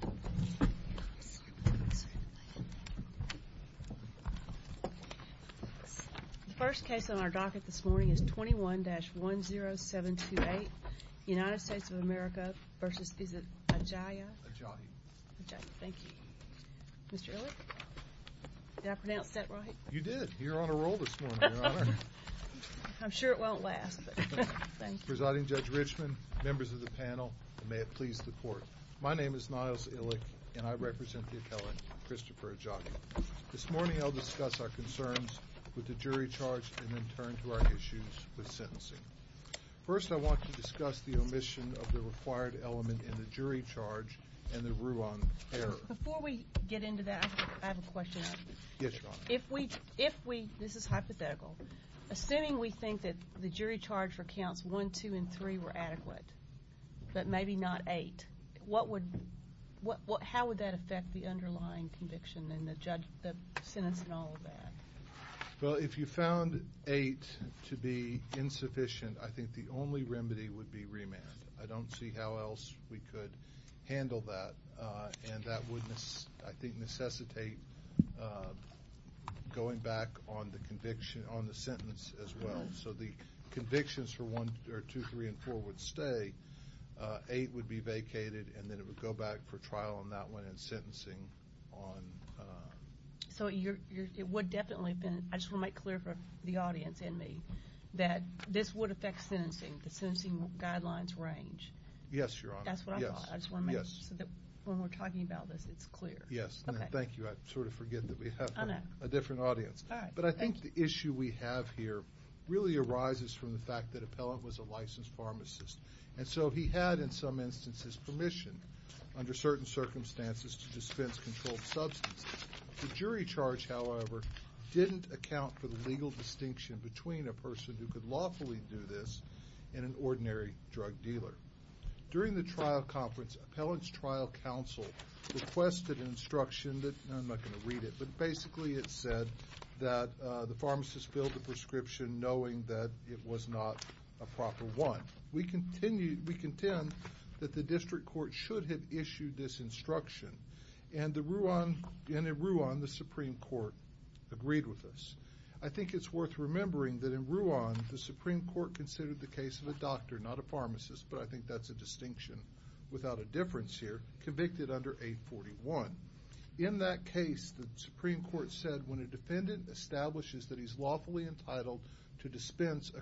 The first case on our docket this morning is 21-10728 United States of America v. Ajayi. Mr. Ehrlich, did I pronounce that right? You did. You're on a roll this morning. I'm sure it won't last. Presiding Judge Richmond, members of the panel, and may it please the court. My name is Niles Ehrlich, and I represent the appellant Christopher Ajayi. This morning I'll discuss our concerns with the jury charge and then turn to our issues with sentencing. First I want to discuss the omission of the required element in the jury charge and the Ruan error. Before we get into that, I have a question. Yes, Your Honor. If we, this is hypothetical, assuming we think that the jury charge for counts 1, 2, and 3 were adequate, but maybe not 8, what would, how would that affect the underlying conviction and the sentence and all of that? Well, if you found 8 to be insufficient, I think the only remedy would be remand. I don't see how else we could handle that, and that would, I think, necessitate going back on the conviction, on the sentence as well. So the convictions for 1, or 2, 3, and 4 would stay, 8 would be vacated, and then it would go back for trial on that one and sentencing on... So it would definitely have been, I just want to make clear for the audience and me, that this would affect sentencing, the sentencing guidelines range. Yes, Your Honor. That's what I thought. Yes. I just want to make sure that when we're talking about this, it's clear. Yes. Okay. Thank you. I sort of forget that we have a different audience. All right. But I think the issue we have here really arises from the fact that the defendant is a pharmacist, and so he had, in some instances, permission, under certain circumstances, to dispense controlled substances. The jury charge, however, didn't account for the legal distinction between a person who could lawfully do this and an ordinary drug dealer. During the trial conference, appellant's trial counsel requested an instruction that, I'm not going to read it, but basically it said that the pharmacist filled the prescription knowing that it was not a proper one. We contend that the district court should have issued this instruction, and in Ruan, the Supreme Court agreed with us. I think it's worth remembering that in Ruan, the Supreme Court considered the case of a doctor, not a pharmacist, but I think that's a distinction without a difference here, convicted under 841. In that case, the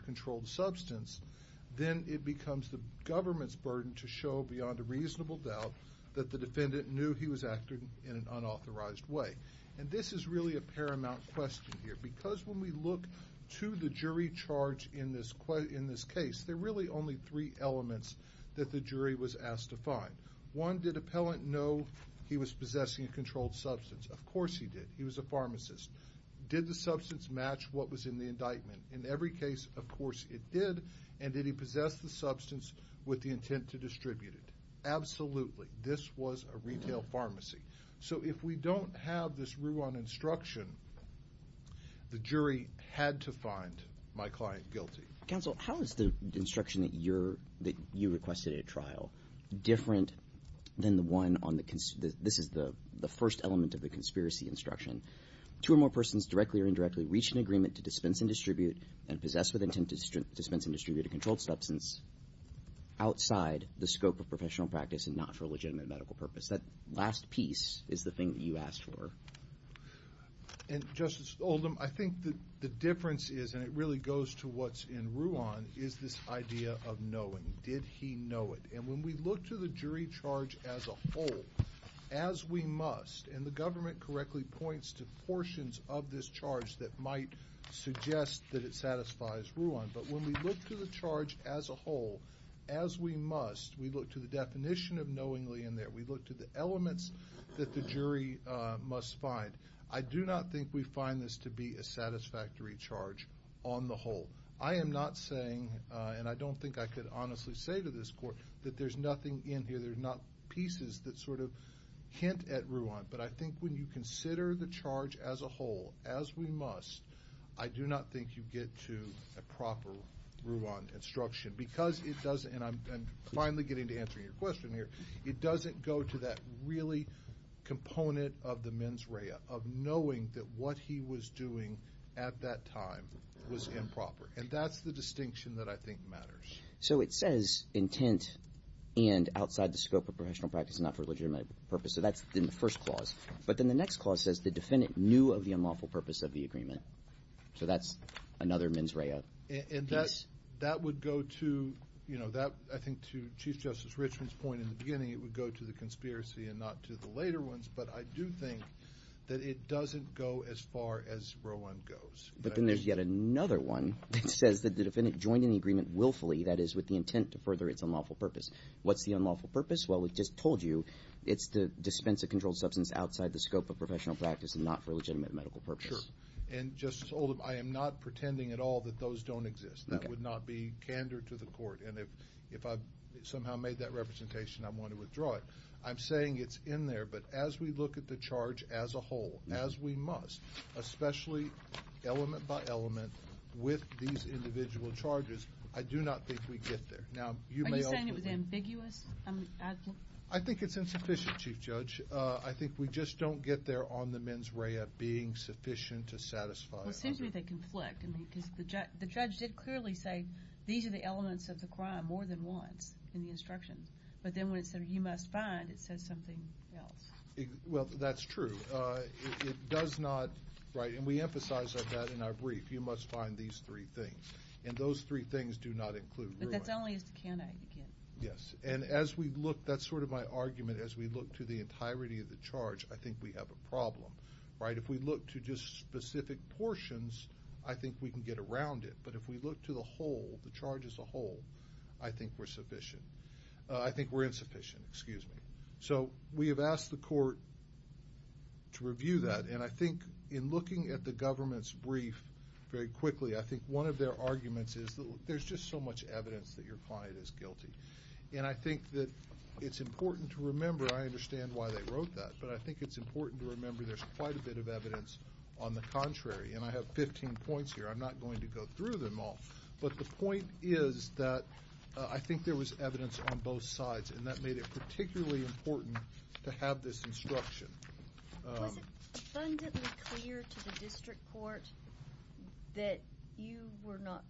controlled substance, then it becomes the government's burden to show beyond a reasonable doubt that the defendant knew he was acting in an unauthorized way. And this is really a paramount question here, because when we look to the jury charge in this case, there are really only three elements that the jury was asked to find. One, did appellant know he was possessing a controlled substance? Of course he did. He was a pharmacist. Did the substance match what was in the indictment? In every case, of course it did. And did he possess the substance with the intent to distribute it? Absolutely. This was a retail pharmacy. So if we don't have this Ruan instruction, the jury had to find my client guilty. Counsel, how is the instruction that you requested at trial different than the one on the, this is the first element of the conspiracy instruction? Two or more persons directly or indirectly reach an agreement to dispense and distribute and possess with intent to dispense and distribute a controlled substance outside the scope of professional practice and not for a legitimate medical purpose. That last piece is the thing that you asked for. And Justice Oldham, I think the difference is, and it really goes to what's in Ruan, is this idea of knowing. Did he know it? And when we look to the jury charge as a whole, as we must, and the government correctly points to portions of this charge that might suggest that it satisfies Ruan, but when we look to the charge as a whole, as we must, we look to the definition of knowingly in there. We look to the elements that the jury must find. I do not think we find this to be a satisfactory charge on the whole. I am not saying, and I don't think I could honestly say to this court, that there's nothing in here, there's not pieces that sort of hint at Ruan, but I think when you consider the charge as a whole, as we must, I do not think you get to a proper Ruan instruction because it doesn't, and I'm finally getting to answer your question here, it doesn't go to that really component of the mens rea, of knowing that what he was doing at that time was improper. And that's the distinction that I think matters. So it says intent and outside the scope of professional practice, not for legitimate purpose, so that's in the first clause. But then the next clause says the defendant knew of the unlawful purpose of the agreement. So that's another mens rea. And that would go to, you know, that I think to Chief Justice Richmond's point in the beginning, it would go to the conspiracy and not to the later ones, but I do think that it doesn't go as far as Ruan goes. But then there's yet another one that says that the defendant joined in the agreement willfully, that is with the intent to further its unlawful purpose. What's the unlawful purpose? Well, we just told you, it's the dispense of controlled substance outside the scope of professional practice and not for legitimate medical purpose. Sure. And Justice Oldham, I am not pretending at all that those don't exist. That would not be candor to the court. And if I've somehow made that representation, I'm going to withdraw it. I'm saying it's in there, but as we look at the charge as a whole, as we must, especially element by element, with these individual charges, I do not think we get there. Are you saying it was ambiguous? I think it's insufficient, Chief Judge. I think we just don't get there on the mens rea being sufficient to satisfy it. Well, it seems to me they conflict. I mean, because the judge did clearly say, these are the elements of the crime more than once in the instructions. But then when it said, you must find, it says something else. Well, that's true. It does not, right, and we emphasize that in our brief. You must find these three things. And those three things do not include real life. But that's only as a candidate, you can't. Yes. And as we look, that's sort of my argument, as we look to the entirety of the charge, I think we have a problem, right? If we look to just specific portions, I think we can get around it. But if we look to the whole, the charge as a whole, I think we're insufficient. Excuse me. So we have asked the court to review that. And I think in looking at the government's brief very quickly, I think one of their arguments is that there's just so much evidence that your client is guilty. And I think that it's important to remember, I understand why they wrote that, but I think it's important to remember there's quite a bit of evidence on the contrary. And I have 15 points here. I'm not going to go through them all. But the point is that I think there was evidence on both sides, and that made it particularly important to have this instruction. Was it abundantly clear to the district court that you were not,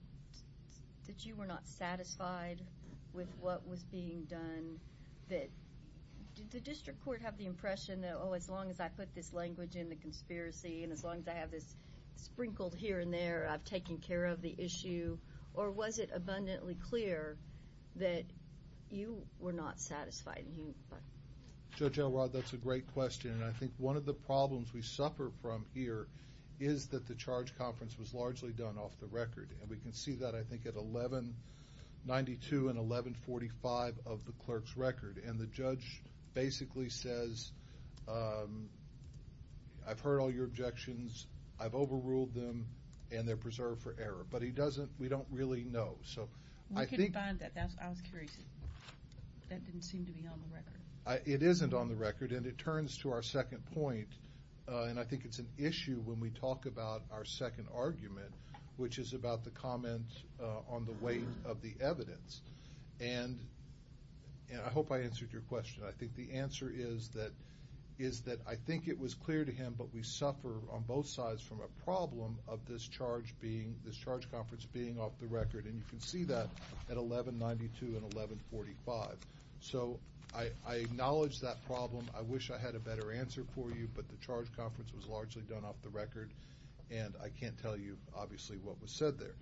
that you were not satisfied with what was being done? That, did the district court have the impression that, oh, as long as I put this language in the conspiracy, and as long as I have this sprinkled here and there, I've taken care of the issue, or was it abundantly clear that you were not satisfied? Judge Elrod, that's a great question. And I think one of the problems we suffer from here is that the charge conference was largely done off the record. And we can see that, I think, at 1192 and 1145 of the clerk's record. And the judge basically says, I've heard all your objections, I've overruled them, and they're preserved for error. But he doesn't, we don't really know. We can find that. I was curious. That didn't seem to be on the record. It isn't on the record. And it turns to our second point, and I think it's an issue when we talk about our second argument, which is about the comment on the weight of the evidence. And I hope I answered your question. I think the answer is that, is that I think it was clear to him, but we suffer on both sides from a problem of this charge being, this charge conference being off the record. And you can see that at 1192 and 1145. So I acknowledge that problem. I wish I had a better answer for you, but the charge conference was largely done off the record, and I can't tell you, obviously, what was said there.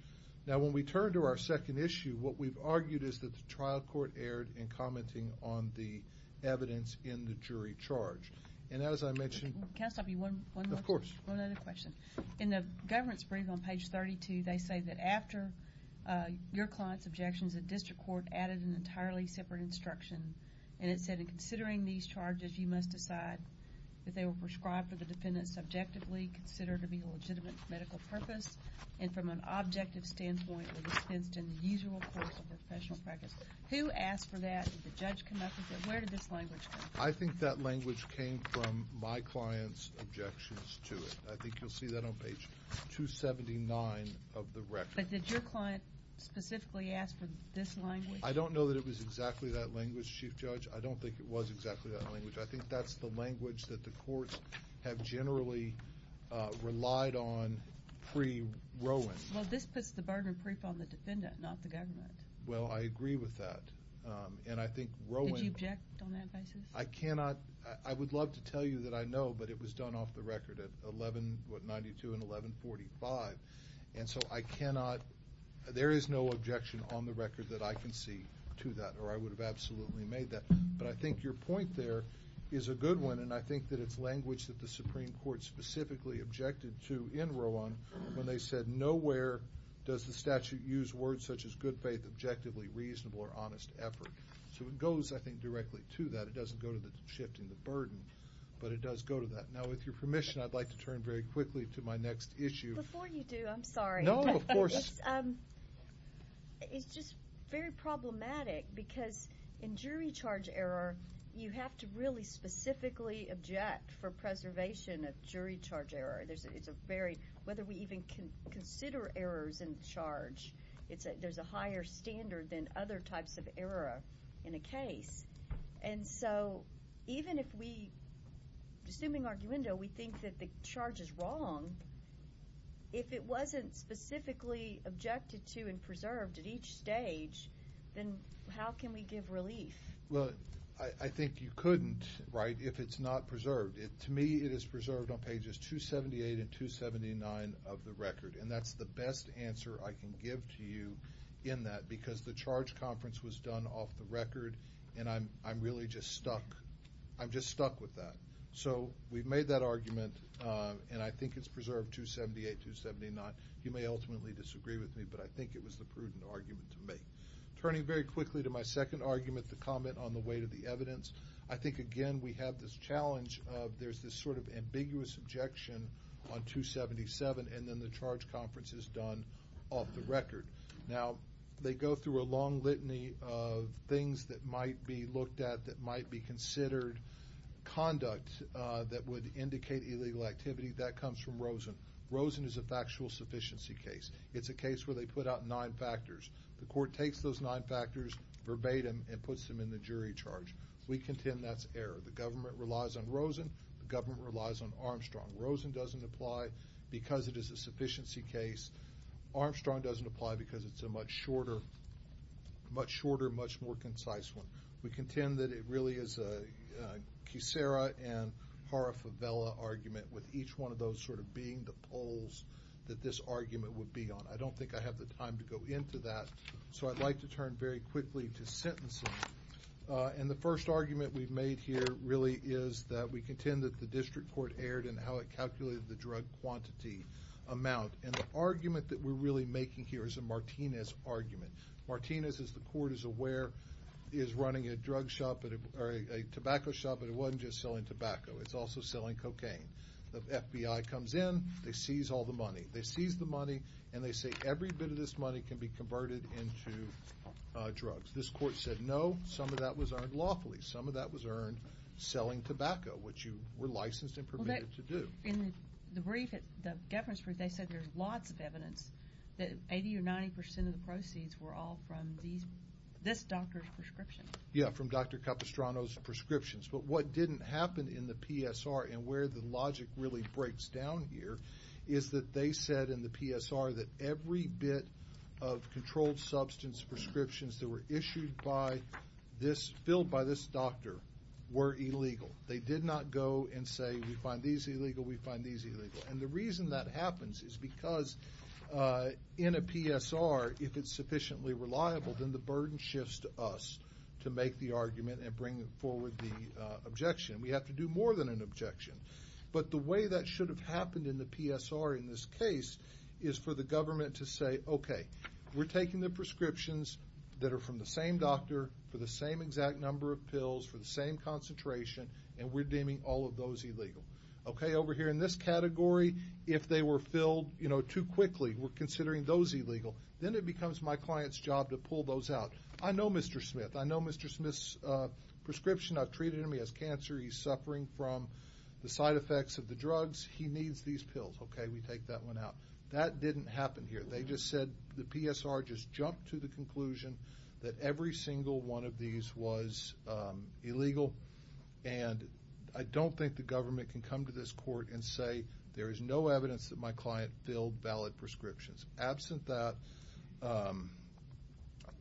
Now when we turn to our second issue, what we've argued is that the trial court erred in commenting on the evidence in the jury charge. And as I mentioned- Can I stop you one more- Of course. One other question. In the government's brief on page 32, they say that after your client's objections, the district court added an entirely separate instruction. And it said, in considering these charges, you must decide if they were prescribed for the defendant subjectively, considered to be a legitimate medical purpose, and from an objective standpoint, were dispensed in the usual course of professional practice. Who asked for that? Did the judge come up with it? Where did this language come from? I think that language came from my client's objections to it. I think you'll see that on page 279 of the record. But did your client specifically ask for this language? I don't know that it was exactly that language, Chief Judge. I don't think it was exactly that language. I think that's the language that the courts have generally relied on pre-Rowen. Well, this puts the burden of proof on the defendant, not the government. Well, I agree with that. And I think Rowen- Did you object on that basis? I cannot- I would love to tell you that I know, but it was done off the record at 11- what, 92 and 1145. And so I cannot- there is no objection on the record that I can see to that, or I would have absolutely made that. But I think your point there is a good one, and I think that it's language that the Supreme Court specifically objected to in Rowen when they said, nowhere does the statute use words such as good faith, objectively, reasonable, or honest effort. So it goes, I think, directly to that. It doesn't go to shifting the burden, but it does go to that. Now, with your permission, I'd like to turn very quickly to my next issue. Before you do, I'm sorry. No, of course. It's just very problematic because in jury charge error, you have to really specifically object for preservation of jury charge error. It's a very- whether we even consider errors in charge, there's a higher standard than other types of error in a case. And so even if we, assuming arguendo, we think that the charge is wrong, if it wasn't specifically objected to and preserved at each stage, then how can we give relief? Well, I think you couldn't, right, if it's not preserved. To me, it is preserved on pages 278 and 279 of the record. And that's the best answer I can give to you in that because the charge conference was done off the record, and I'm really just stuck. I'm just stuck with that. So we've made that argument, and I think it's preserved 278, 279. You may ultimately disagree with me, but I think it was the prudent argument to make. Turning very quickly to my second argument, the comment on the weight of the evidence, I think, again, we have this challenge of there's this sort of ambiguous objection on 277, and then the charge conference is done off the record. Now, they go through a long litany of things that might be looked at that might be considered conduct that would indicate illegal activity. That comes from Rosen. Rosen is a factual sufficiency case. It's a case where they put out nine factors. The court takes those nine factors verbatim and puts them in the jury charge. We contend that's error. The government relies on Rosen. The government relies on Armstrong. Rosen doesn't apply because it is a sufficiency case. Armstrong doesn't apply because it's a much shorter, much more concise one. We contend that it really is a Kucera and Hara-Favela argument with each one of those sort of being the poles that this argument would be on. I don't think I have the time to go into that, so I'd like to turn very quickly to sentencing, and the first argument we've made here really is that we contend that the district court erred in how it calculated the drug quantity amount, and the argument that we're really making here is a Martinez argument. Martinez, as the court is aware, is running a tobacco shop, but it wasn't just selling tobacco. It's also selling cocaine. The FBI comes in. They seize all the money. They seize the money, and they say every bit of this money can be converted into drugs. This court said no. Some of that was earned lawfully. Some of that was earned selling tobacco, which you were licensed and permitted to do. In the brief, the government's brief, they said there's lots of evidence that 80 or 90 percent of the proceeds were all from this doctor's prescription. Yeah, from Dr. Capistrano's prescriptions, but what didn't happen in the PSR and where the logic really breaks down here is that they said in the PSR that every bit of controlled substance prescriptions that were issued by this, filled by this doctor, were illegal. They did not go and say we find these illegal, we find these illegal, and the reason that happens is because in a PSR, if it's sufficiently reliable, then the burden shifts to us to make the argument and bring forward the objection. We have to do more than an objection. But the way that should have happened in the PSR in this case is for the government to say okay, we're taking the prescriptions that are from the same doctor for the same exact number of pills, for the same concentration, and we're deeming all of those illegal. Okay over here in this category, if they were filled too quickly, we're considering those illegal. Then it becomes my client's job to pull those out. I know Mr. Smith. I know Mr. Smith's prescription. I've treated him. He has cancer. He's suffering from the side effects of the drugs. He needs these pills. Okay, we take that one out. That didn't happen here. They just said the PSR just jumped to the conclusion that every single one of these was illegal, and I don't think the government can come to this court and say there is no evidence that my client filled valid prescriptions. Absent that,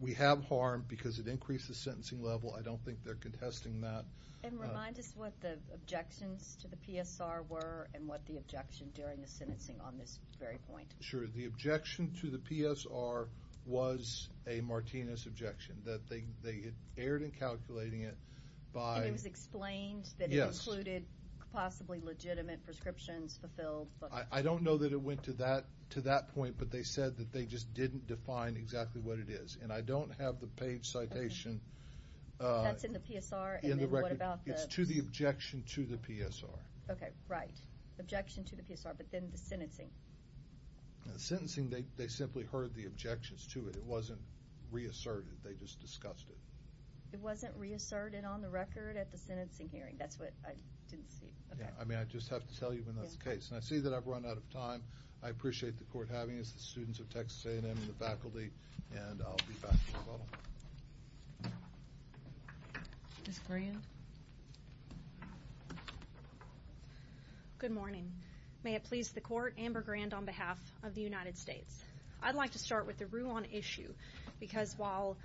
we have harm because it increases the sentencing level. I don't think they're contesting that. And remind us what the objections to the PSR were and what the objection during the sentencing on this very point. Sure. The objection to the PSR was a Martinez objection. They erred in calculating it by... And it was explained that it included possibly legitimate prescriptions fulfilled. I don't know that it went to that point, but they said that they just didn't define exactly what it is, and I don't have the page citation... That's in the PSR, and then what about the... It's to the objection to the PSR. Okay, right. Objection to the PSR, but then the sentencing. The sentencing, they simply heard the objections to it. It wasn't reasserted. They just discussed it. It wasn't reasserted on the record at the sentencing hearing. That's what I didn't see. Okay. I mean, I just have to tell you when that's the case, and I see that I've run out of time. I appreciate the court having us, the students of Texas A&M, and the faculty, and I'll be back in a little while. Ms. Grand? Good morning. May it please the court, Amber Grand on behalf of the United States. I'd like to start with the Ruan issue, because while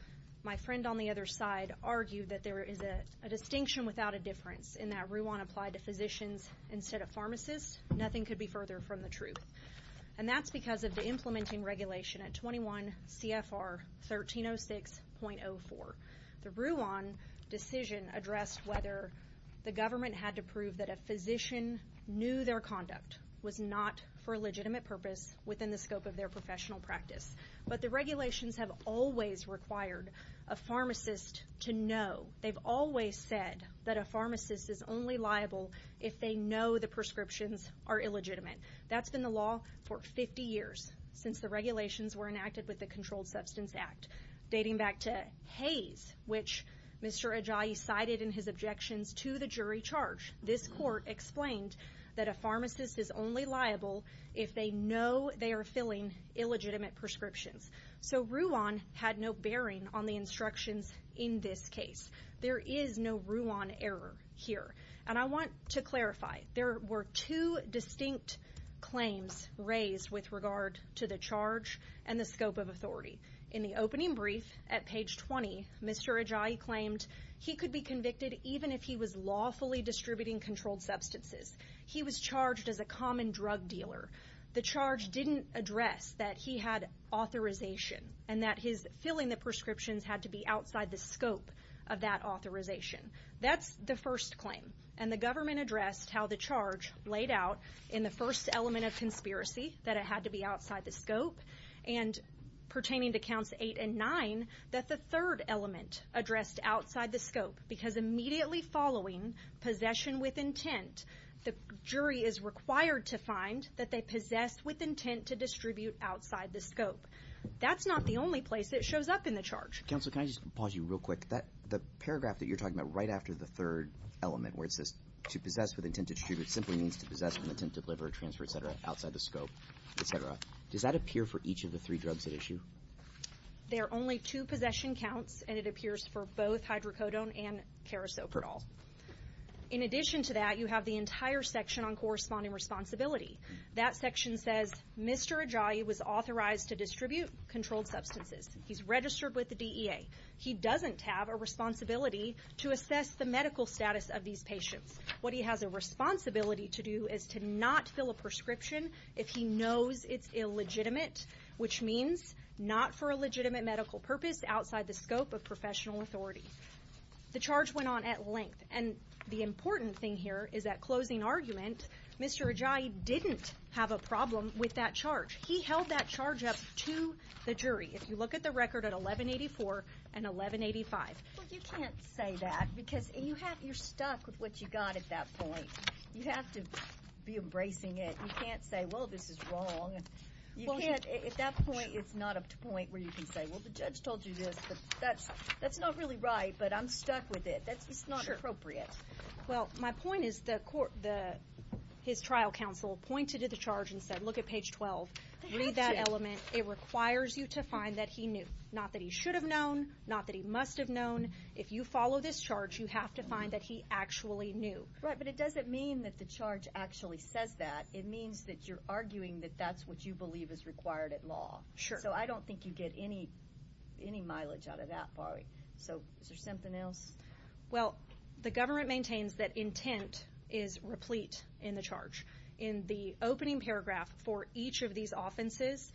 my friend on the other side argued that there is a distinction without a difference in that Ruan applied to physicians instead of pharmacists, nothing could be further from the truth, and that's because of the implementing regulation at 21 CFR 1306.04. The Ruan decision addressed whether the government had to prove that a physician knew their conduct was not for a legitimate purpose within the scope of their professional practice, but the regulations have always required a pharmacist to know. They've always said that a pharmacist is only liable if they know the prescriptions are illegitimate. That's been the law for 50 years since the regulations were enacted with the Controlled Substance Act, dating back to Hays, which Mr. Ajayi cited in his objections to the jury charge. This court explained that a pharmacist is only liable if they know they are filling illegitimate prescriptions. So Ruan had no bearing on the in this case. There is no Ruan error here. And I want to clarify, there were two distinct claims raised with regard to the charge and the scope of authority. In the opening brief at page 20, Mr. Ajayi claimed he could be convicted even if he was lawfully distributing controlled substances. He was charged as a common drug dealer. The charge didn't address that he had authorization and that his filling the prescriptions had to be outside the scope of that authorization. That's the first claim. And the government addressed how the charge laid out in the first element of conspiracy, that it had to be outside the scope, and pertaining to counts eight and nine, that the third element addressed outside the scope. Because immediately following possession with intent, the jury is required to find that they possess with intent outside the scope. That's not the only place it shows up in the charge. Counsel, can I just pause you real quick? The paragraph that you're talking about right after the third element where it says to possess with intent to distribute simply means to possess with intent to deliver, transfer, etc., outside the scope, etc. Does that appear for each of the three drugs at issue? There are only two possession counts, and it appears for both hydrocodone and carisoprodol. In addition to that, you have the entire section on corresponding responsibility. That section says Mr. Ajayi was authorized to distribute controlled substances. He's registered with the DEA. He doesn't have a responsibility to assess the medical status of these patients. What he has a responsibility to do is to not fill a prescription if he knows it's illegitimate, which means not for a legitimate medical purpose outside the scope of professional authority. The charge went on at length. And the important thing here is that closing argument, Mr. Ajayi didn't have a problem with that charge. He held that charge up to the jury. If you look at the record at 1184 and 1185. Well, you can't say that because you're stuck with what you got at that point. You have to be embracing it. You can't say, well, this is wrong. At that point, it's not up to point where you can say, well, the judge told you this, but that's not really right, but I'm stuck with it. That's just not appropriate. Well, my point is the court, the, his trial counsel pointed to the charge and said, look at page 12, read that element. It requires you to find that he knew, not that he should have known, not that he must have known. If you follow this charge, you have to find that he actually knew. Right. But it doesn't mean that the charge actually says that. It means that you're arguing that that's what you believe is required at law. So I don't think you get any, any mileage out of that bar. So is there something else? Well, the government maintains that intent is replete in the charge. In the opening paragraph for each of these offenses,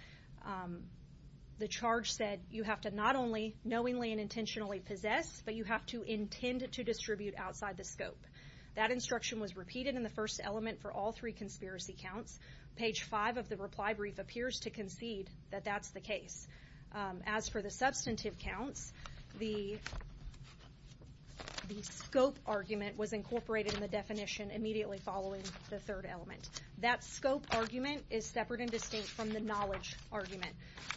the charge said you have to not only knowingly and intentionally possess, but you have to intend to distribute outside the scope. That instruction was repeated in the first element for all three conspiracy counts. Page five of the reply brief appears to concede that that's the case. As for the substantive counts, the, the scope argument was incorporated in the definition immediately following the third element. That scope argument is separate and distinct from the knowledge argument.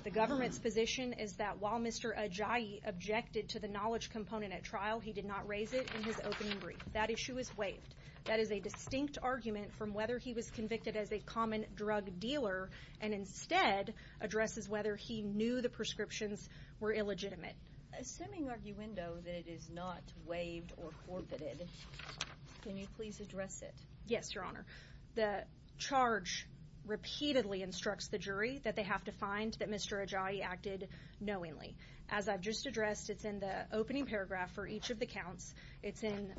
The government's position is that while Mr. Ajayi objected to the knowledge component at trial, he did not raise it in his opening brief. That issue is waived. That is a distinct argument from whether he was convicted as a common drug dealer and instead addresses whether he knew the prescriptions were illegitimate. Assuming arguendo that it is not waived or forfeited, can you please address it? Yes, Your Honor. The charge repeatedly instructs the jury that they have to find that Mr. Ajayi acted knowingly. As I've just addressed, it's in the opening paragraph for each of the counts. It's in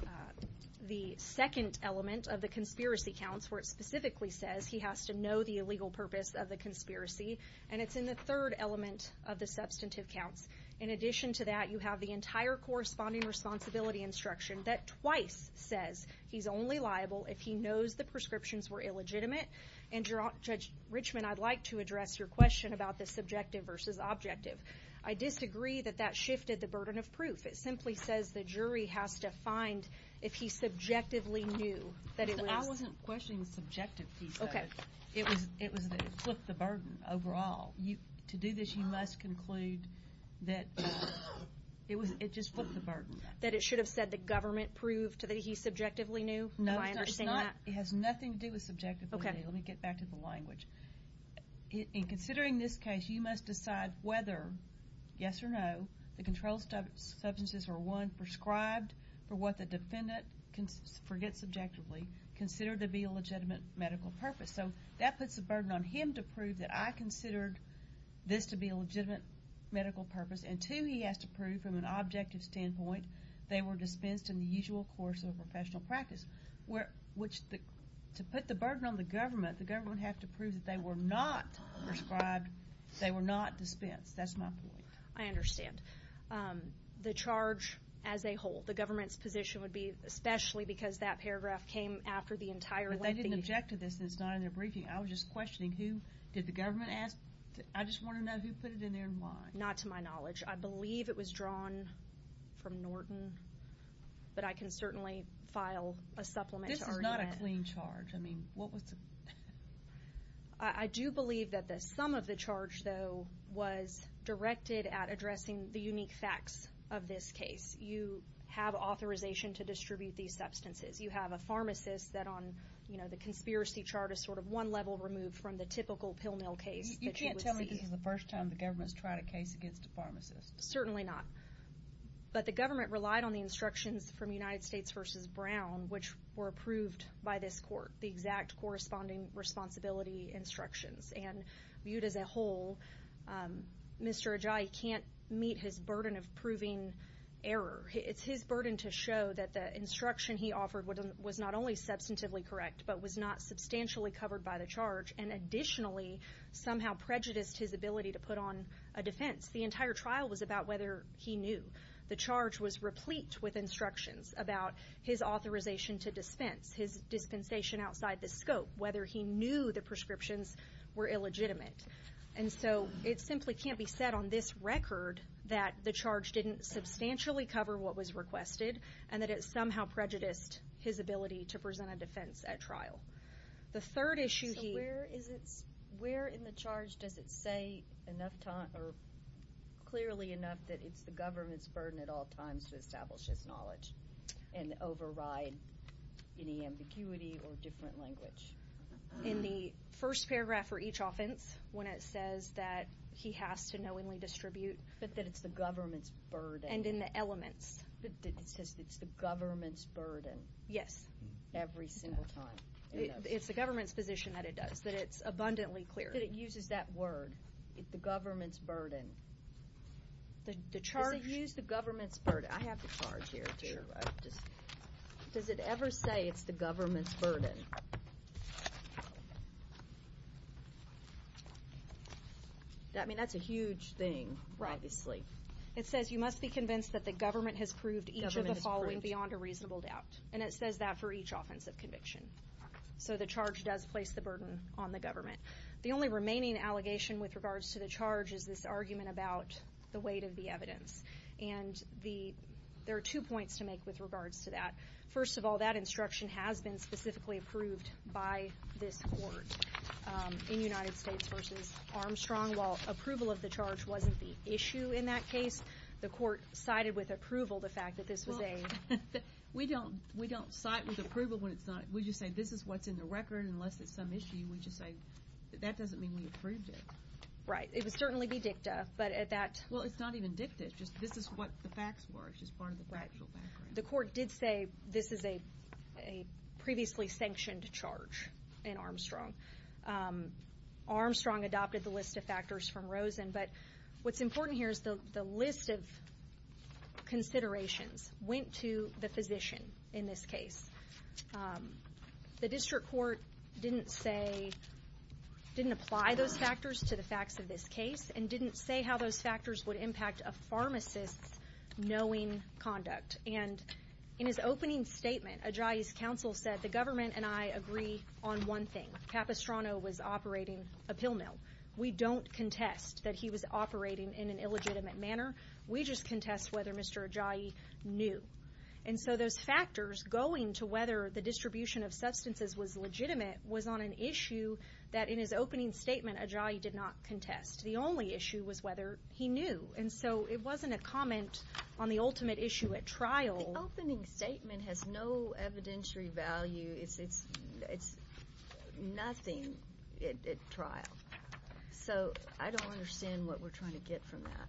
the second element of the conspiracy counts where it specifically says he has to the illegal purpose of the conspiracy. And it's in the third element of the substantive counts. In addition to that, you have the entire corresponding responsibility instruction that twice says he's only liable if he knows the prescriptions were illegitimate. And, Judge Richman, I'd like to address your question about the subjective versus objective. I disagree that that shifted the burden of proof. It simply says the jury has to find if he subjectively knew that it was. I wasn't questioning the subjective piece of it. It was that it flipped the burden overall. To do this, you must conclude that it just flipped the burden. That it should have said the government proved that he subjectively knew? No, it has nothing to do with subjectivity. Let me get back to the language. In considering this case, you must decide whether, yes or no, the controlled substances were, one, prescribed for what the defendant forgets subjectively, considered to be a legitimate medical purpose. So that puts the burden on him to prove that I considered this to be a legitimate medical purpose. And, two, he has to prove from an objective standpoint they were dispensed in the usual course of professional practice. To put the burden on the government, the government would have to prove that they were not prescribed, they were not dispensed. That's my point. I understand. The charge as a whole, the government's position would be, especially because that paragraph came after the entire lengthy... But they didn't object to this and it's not in their briefing. I was just questioning who, did the government ask? I just want to know who put it in there and why. Not to my knowledge. I believe it was drawn from Norton, but I can certainly file a supplement to Ernie Wendt. This is not a clean charge. I mean, what was the... I do believe that the sum of the charge, though, was directed at addressing the unique facts of this case. You have authorization to distribute these substances. You have a pharmacist that on the conspiracy chart is sort of one level removed from the typical pill mill case that you would see. You can't tell me this is the first time the government's tried a case against a pharmacist. Certainly not. But the government relied on the instructions from United States v. Brown, which were approved by this court, the exact corresponding responsibility instructions. And viewed as a whole, Mr. Ajayi can't meet his burden of proving error. It's his burden to show that the instruction he offered was not only substantively correct, but was not substantially covered by the charge and additionally somehow prejudiced his ability to put on a defense. The entire trial was about whether he knew. The charge was replete with instructions about his authorization to dispense, his dispensation outside the scope, whether he knew the prescriptions were illegitimate. And so it simply can't be said on this record that the charge didn't substantially cover what was requested and that it somehow prejudiced his ability to present a defense at trial. The third issue here... Where in the charge does it say clearly enough that it's the government's burden at all times to establish his knowledge and override any ambiguity or different language? In the first paragraph for each offense when it says that he has to knowingly distribute. But that it's the government's burden. And in the elements. It says it's the government's burden. Yes. Every single time. It's the government's position that it does, that it's abundantly clear. That it uses that word, the government's burden. The charge... Does it use the government's burden? I have the charge here too. Sure. Does it ever say it's the government's burden? I mean, that's a huge thing, obviously. Right. It says you must be convinced that the government has proved each of the following beyond a reasonable doubt. And it says that for each offense of conviction. So the charge does place the burden on the government. The only remaining allegation with regards to the charge is this argument about the weight of the evidence. And there are two points to make with regards to that. First of all, that instruction has been specifically approved by this court in United States v. Armstrong. While approval of the charge wasn't the issue in that case, the court sided with approval, the fact that this was a... We don't side with approval when it's not. We just say this is what's in the record unless it's some issue. We just say that doesn't mean we approved it. Right. It would certainly be dicta, but at that... Well, it's not even dicta. It's just this is what the facts were. It's just part of the factual background. The court did say this is a previously sanctioned charge in Armstrong. Armstrong adopted the list of factors from Rosen. But what's important here is the list of considerations went to the physician in this case. The district court didn't say, didn't apply those factors to the facts of this case and didn't say how those factors would impact a pharmacist's knowing conduct. And in his opening statement, Ajayi's counsel said, The government and I agree on one thing. Capistrano was operating a pill mill. We don't contest that he was operating in an illegitimate manner. We just contest whether Mr. Ajayi knew. And so those factors going to whether the distribution of substances was legitimate was on an issue that in his opening statement Ajayi did not contest. The only issue was whether he knew. And so it wasn't a comment on the ultimate issue at trial. The opening statement has no evidentiary value. It's nothing at trial. So I don't understand what we're trying to get from that.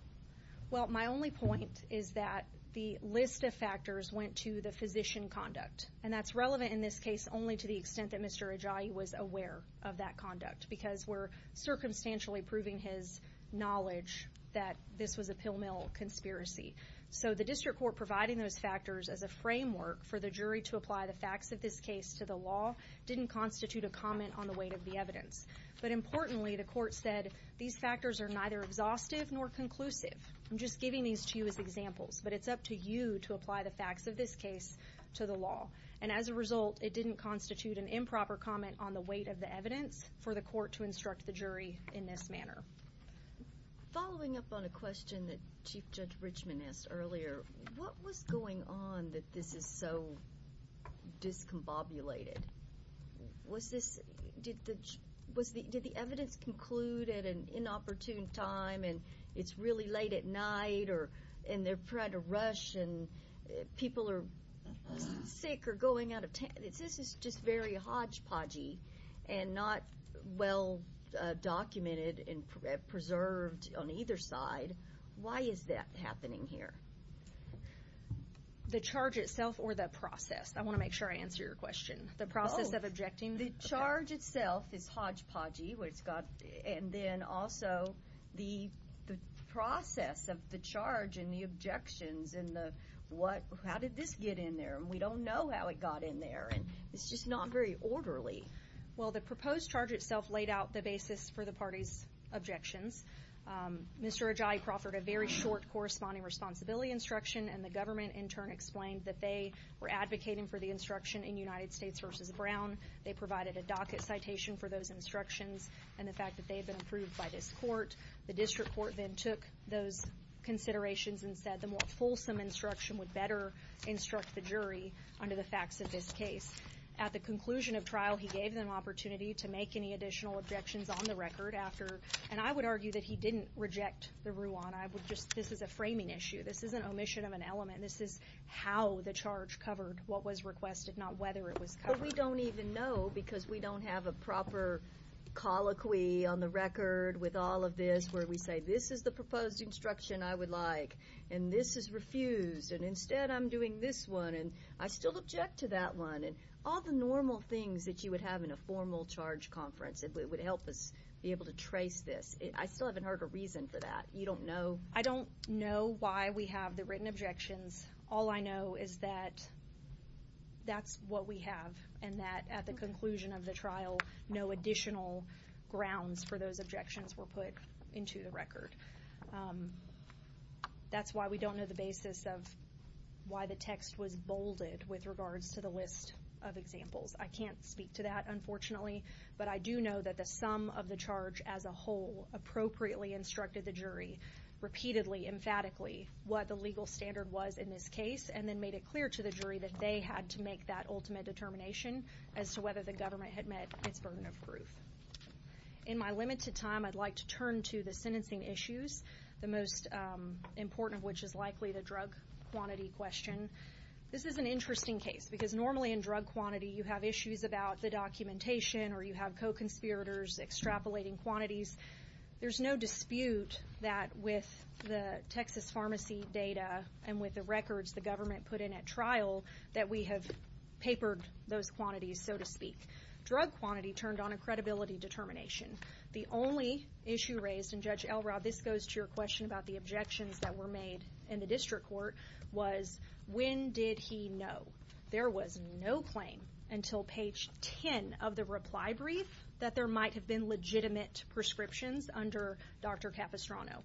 Well, my only point is that the list of factors went to the physician conduct. And that's relevant in this case only to the extent that Mr. Ajayi was aware of that conduct because we're circumstantially proving his knowledge that this was a pill mill conspiracy. So the district court providing those factors as a framework for the jury to apply the facts of this case to the law didn't constitute a comment on the weight of the evidence. But importantly, the court said these factors are neither exhaustive nor conclusive. I'm just giving these to you as examples, but it's up to you to apply the facts of this case to the law. And as a result, it didn't constitute an improper comment on the weight of the evidence for the court to instruct the jury in this manner. Following up on a question that Chief Judge Richman asked earlier, what was going on that this is so discombobulated? Did the evidence conclude at an inopportune time and it's really late at night and they're trying to rush and people are sick or going out of town? This is just very hodgepodgey and not well documented and preserved on either side. Why is that happening here? The charge itself or the process? I want to make sure I answer your question. The process of objecting? The charge itself is hodgepodgey and then also the process of the charge and the objections and the how did this get in there? And we don't know how it got in there and it's just not very orderly. Well, the proposed charge itself laid out the basis for the party's objections. Mr. Ajayi proffered a very short corresponding responsibility instruction and the government in turn explained that they were advocating for the instruction in United States v. Brown. They provided a docket citation for those instructions and the fact that they had been approved by this court. The district court then took those considerations and said the more fulsome instruction would better instruct the jury under the facts of this case. At the conclusion of trial, he gave them opportunity to make any additional objections on the record after and I would argue that he didn't reject the Ruan. This is a framing issue. This is an omission of an element. This is how the charge covered what was requested, not whether it was covered. But we don't even know because we don't have a proper colloquy on the record with all of this where we say this is the proposed instruction I would like and this is refused. And instead I'm doing this one and I still object to that one. And all the normal things that you would have in a formal charge conference that would help us be able to trace this, I still haven't heard a reason for that. You don't know? I don't know why we have the written objections. All I know is that that's what we have and that at the conclusion of the trial, no additional grounds for those objections were put into the record. That's why we don't know the basis of why the text was bolded with regards to the list of examples. I can't speak to that, unfortunately, but I do know that the sum of the charge as a whole appropriately instructed the jury repeatedly, emphatically what the legal standard was in this case and then made it clear to the jury that they had to make that ultimate determination In my limited time, I'd like to turn to the sentencing issues, the most important of which is likely the drug quantity question. This is an interesting case because normally in drug quantity you have issues about the documentation or you have co-conspirators extrapolating quantities. There's no dispute that with the Texas pharmacy data and with the records the government put in at trial that we have papered those quantities, so to speak. Drug quantity turned on a credibility determination. The only issue raised, and Judge Elrod, this goes to your question about the objections that were made in the district court, was when did he know? There was no claim until page 10 of the reply brief that there might have been legitimate prescriptions under Dr. Capistrano.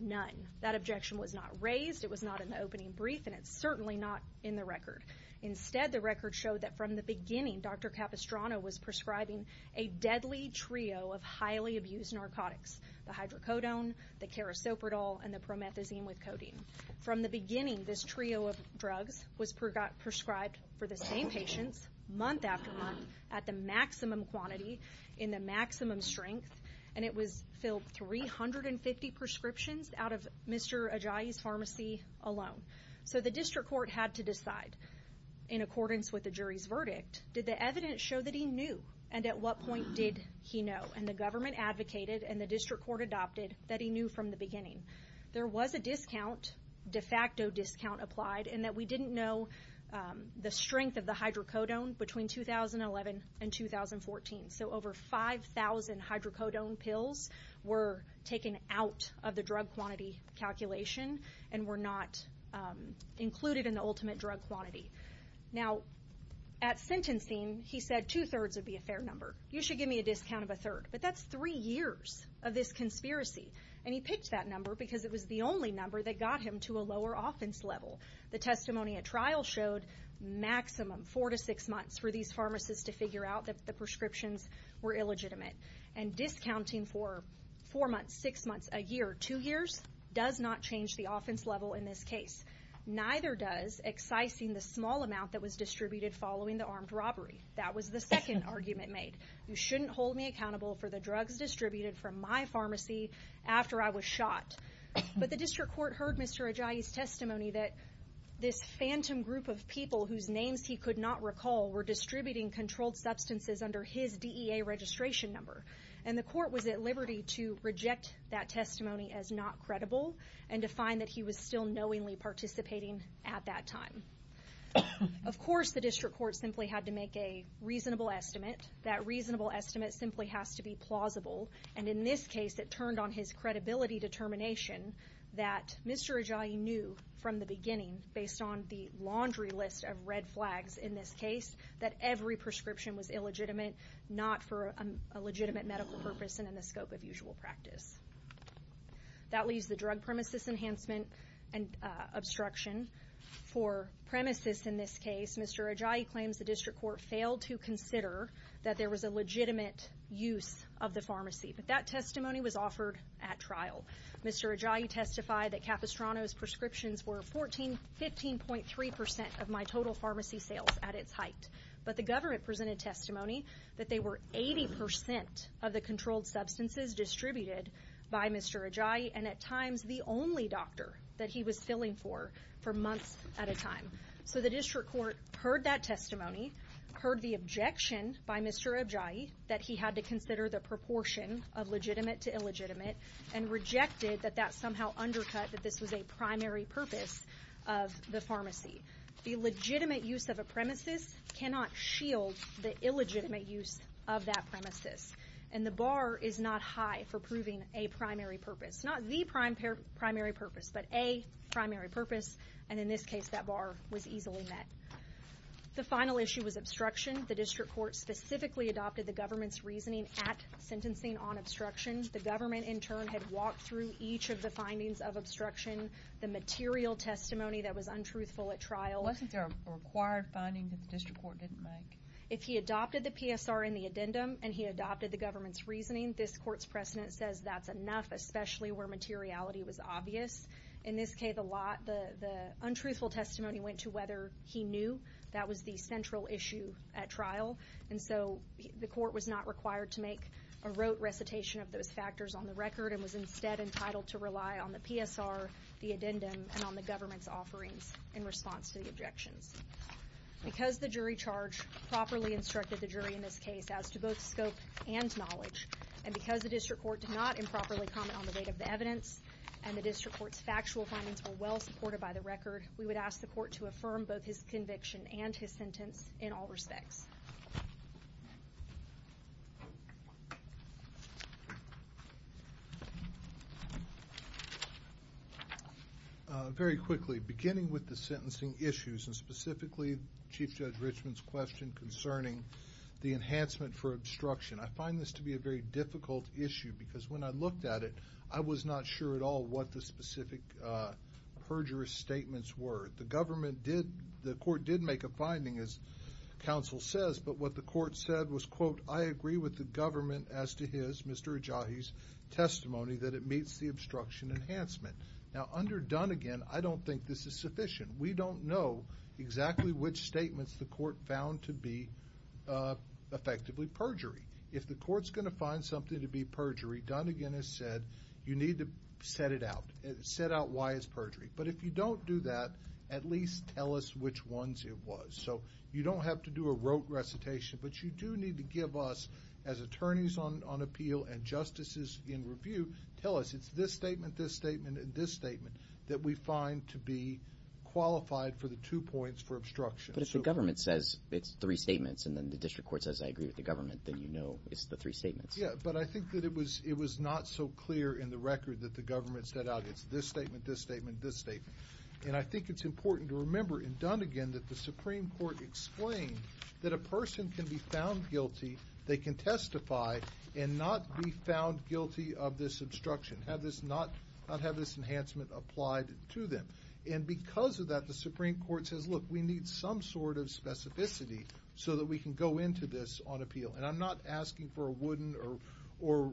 None. That objection was not raised, it was not in the opening brief, and it's certainly not in the record. Instead, the record showed that from the beginning, Dr. Capistrano was prescribing a deadly trio of highly abused narcotics. The hydrocodone, the carisoprodol, and the promethazine with codeine. From the beginning, this trio of drugs was prescribed for the same patients, month after month, at the maximum quantity, in the maximum strength, and it was filled 350 prescriptions out of Mr. Ajayi's pharmacy alone. So the district court had to decide, in accordance with the jury's verdict, did the evidence show that he knew, and at what point did he know? And the government advocated, and the district court adopted, that he knew from the beginning. There was a discount, de facto discount applied, in that we didn't know the strength of the hydrocodone between 2011 and 2014. So over 5,000 hydrocodone pills were taken out of the drug quantity calculation and were not included in the ultimate drug quantity. Now, at sentencing, he said two-thirds would be a fair number. You should give me a discount of a third. But that's three years of this conspiracy. And he picked that number because it was the only number that got him to a lower offense level. The testimony at trial showed maximum four to six months for these pharmacists to figure out that the prescriptions were illegitimate. And discounting for four months, six months, a year, two years, does not change the offense level in this case. Neither does excising the small amount that was distributed following the armed robbery. That was the second argument made. You shouldn't hold me accountable for the drugs distributed from my pharmacy after I was shot. But the district court heard Mr. Ajayi's testimony that this phantom group of people whose names he could not recall were distributing controlled substances under his DEA registration number. And the court was at liberty to reject that testimony as not credible and to find that he was still knowingly participating at that time. Of course, the district court simply had to make a reasonable estimate. That reasonable estimate simply has to be plausible. And in this case, it turned on his credibility determination that Mr. Ajayi knew from the beginning, based on the laundry list of red flags in this case, that every prescription was illegitimate, not for a legitimate medical purpose and in the scope of usual practice. That leaves the drug premises enhancement and obstruction. For premises in this case, Mr. Ajayi claims the district court failed to consider that there was a legitimate use of the pharmacy. But that testimony was offered at trial. Mr. Ajayi testified that Capistrano's prescriptions were 15.3% of my total pharmacy sales at its height. But the government presented testimony that they were 80% of the controlled substances distributed by Mr. Ajayi and at times the only doctor that he was filling for for months at a time. So the district court heard that testimony, heard the objection by Mr. Ajayi that he had to consider the proportion of legitimate to illegitimate and rejected that that somehow undercut that this was a primary purpose of the pharmacy. The legitimate use of a premises cannot shield the illegitimate use of that premises. And the bar is not high for proving a primary purpose. Not the primary purpose, but a primary purpose. And in this case, that bar was easily met. The final issue was obstruction. The district court specifically adopted the government's reasoning at sentencing on obstruction. The government, in turn, had walked through each of the findings of obstruction, the material testimony that was untruthful at trial. Wasn't there a required finding that the district court didn't make? If he adopted the PSR in the addendum and he adopted the government's reasoning, this court's precedent says that's enough, especially where materiality was obvious. In this case, the untruthful testimony went to whether he knew that was the central issue at trial. And so the court was not required to make a rote recitation of those factors on the record and was instead entitled to rely on the PSR, the addendum, and on the government's offerings in response to the objections. Because the jury charge properly instructed the jury in this case as to both scope and knowledge, and because the district court did not improperly comment on the weight of the evidence and the district court's factual findings were well supported by the record, we would ask the court to affirm both his conviction and his sentence in all respects. Very quickly, beginning with the sentencing issues, and specifically Chief Judge Richmond's question concerning the enhancement for obstruction, I find this to be a very difficult issue because when I looked at it, I was not sure at all what the specific perjurist statements were. The court did make a finding, as counsel says, but what the court said was, quote, I agree with the government as to his, Mr. Ajahi's, testimony that it meets the obstruction enhancement. Now, under Dunnegan, I don't think this is sufficient. We don't know exactly which statements the court found to be effectively perjury. If the court's going to find something to be perjury, Dunnegan has said you need to set it out. Set out why it's perjury. But if you don't do that, at least tell us which ones it was. So you don't have to do a rote recitation, but you do need to give us, as attorneys on appeal and justices in review, tell us. It's this statement, this statement, and this statement that we find to be qualified for the two points for obstruction. But if the government says it's three statements, and then the district court says I agree with the government, then you know it's the three statements. Yeah, but I think that it was not so clear in the record that the government set out, it's this statement, this statement, this statement. And I think it's important to remember in Dunnegan that the Supreme Court explained that a person can be found guilty, they can testify, and not be found guilty of this obstruction, not have this enhancement applied to them. And because of that, the Supreme Court says, look, we need some sort of specificity so that we can go into this on appeal. And I'm not asking for a wooden or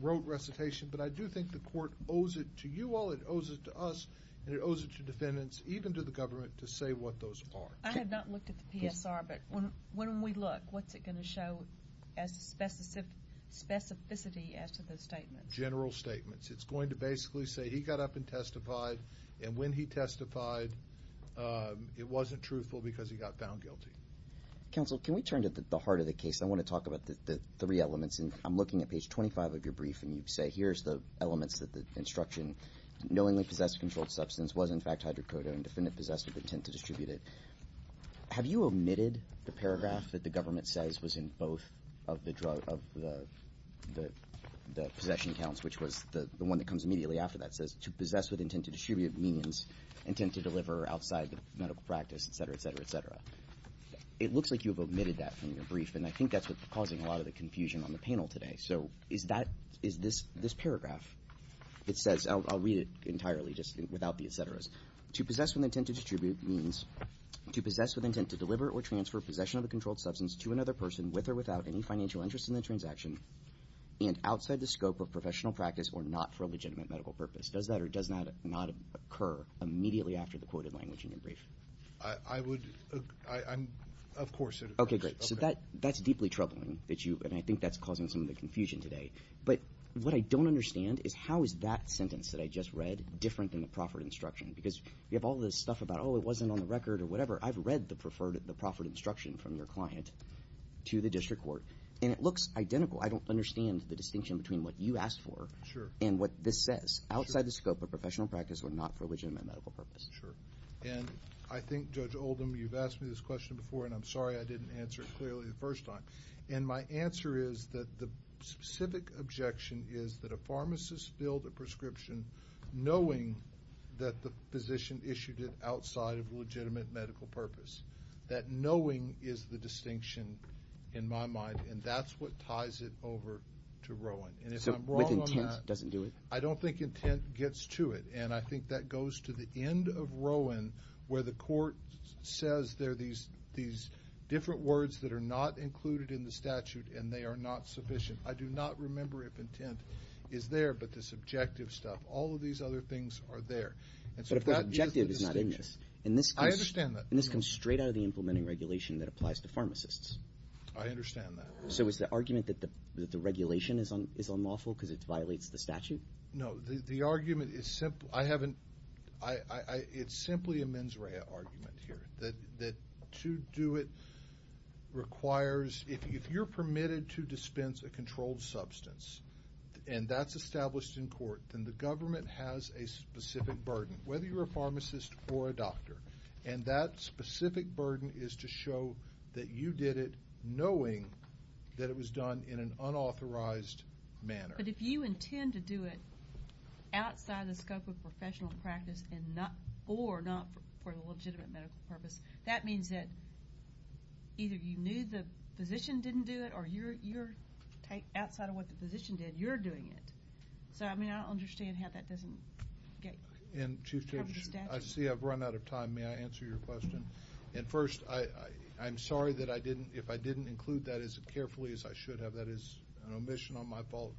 rote recitation, but I do think the court owes it to you all, it owes it to us, and it owes it to defendants, even to the government, to say what those are. I have not looked at the PSR, but when we look, what's it going to show as specificity as to those statements? General statements. It's going to basically say he got up and testified, and when he testified, it wasn't truthful because he got found guilty. Counsel, can we turn to the heart of the case? I want to talk about the three elements, and I'm looking at page 25 of your brief, and you say here's the elements that the instruction, knowingly possessed controlled substance, was in fact hydrocodone and defendant possessed with intent to distribute it. Have you omitted the paragraph that the government says was in both of the possession counts, which was the one that comes immediately after that says to possess with intent to distribute means intent to deliver outside the medical practice, et cetera, et cetera, et cetera? It looks like you've omitted that from your brief, and I think that's what's causing a lot of the confusion on the panel today. So is this paragraph, it says, I'll read it entirely just without the et ceteras. It says, to possess with intent to distribute means to possess with intent to deliver or transfer possession of a controlled substance to another person with or without any financial interest in the transaction and outside the scope of professional practice or not for a legitimate medical purpose. Does that or does that not occur immediately after the quoted language in your brief? I would – of course it occurs. Okay, great. So that's deeply troubling, and I think that's causing some of the confusion today. But what I don't understand is how is that sentence that I just read different than the proffered instruction? Because you have all this stuff about, oh, it wasn't on the record or whatever. I've read the proffered instruction from your client to the district court, and it looks identical. I don't understand the distinction between what you asked for and what this says, outside the scope of professional practice or not for a legitimate medical purpose. Sure. And I think, Judge Oldham, you've asked me this question before, and I'm sorry I didn't answer it clearly the first time. And my answer is that the specific objection is that a pharmacist billed a prescription knowing that the physician issued it outside of a legitimate medical purpose, that knowing is the distinction in my mind, and that's what ties it over to Rowan. And if I'm wrong on that, I don't think intent gets to it. And I think that goes to the end of Rowan, where the court says there are these different words that are not included in the statute, and they are not sufficient. I do not remember if intent is there, but this objective stuff, all of these other things are there. But if the objective is not in this. I understand that. And this comes straight out of the implementing regulation that applies to pharmacists. I understand that. So is the argument that the regulation is unlawful because it violates the statute? No. The argument is simply a mens rea argument here, that to do it requires, if you're permitted to dispense a controlled substance and that's established in court, then the government has a specific burden, whether you're a pharmacist or a doctor. And that specific burden is to show that you did it knowing that it was done in an unauthorized manner. But if you intend to do it outside of the scope of professional practice or not for the legitimate medical purpose, that means that either you knew the physician didn't do it or you're outside of what the physician did, you're doing it. So, I mean, I don't understand how that doesn't cover the statute. And, Chief Judge, I see I've run out of time. May I answer your question? And, first, I'm sorry if I didn't include that as carefully as I should have. That is an omission on my fault,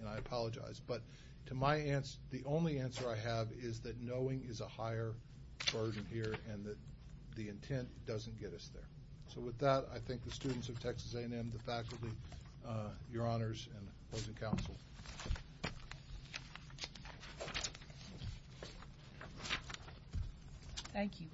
and I apologize. But to my answer, the only answer I have is that knowing is a higher burden here and that the intent doesn't get us there. So with that, I thank the students of Texas A&M, the faculty, your honors, and opposing counsel. Thank you.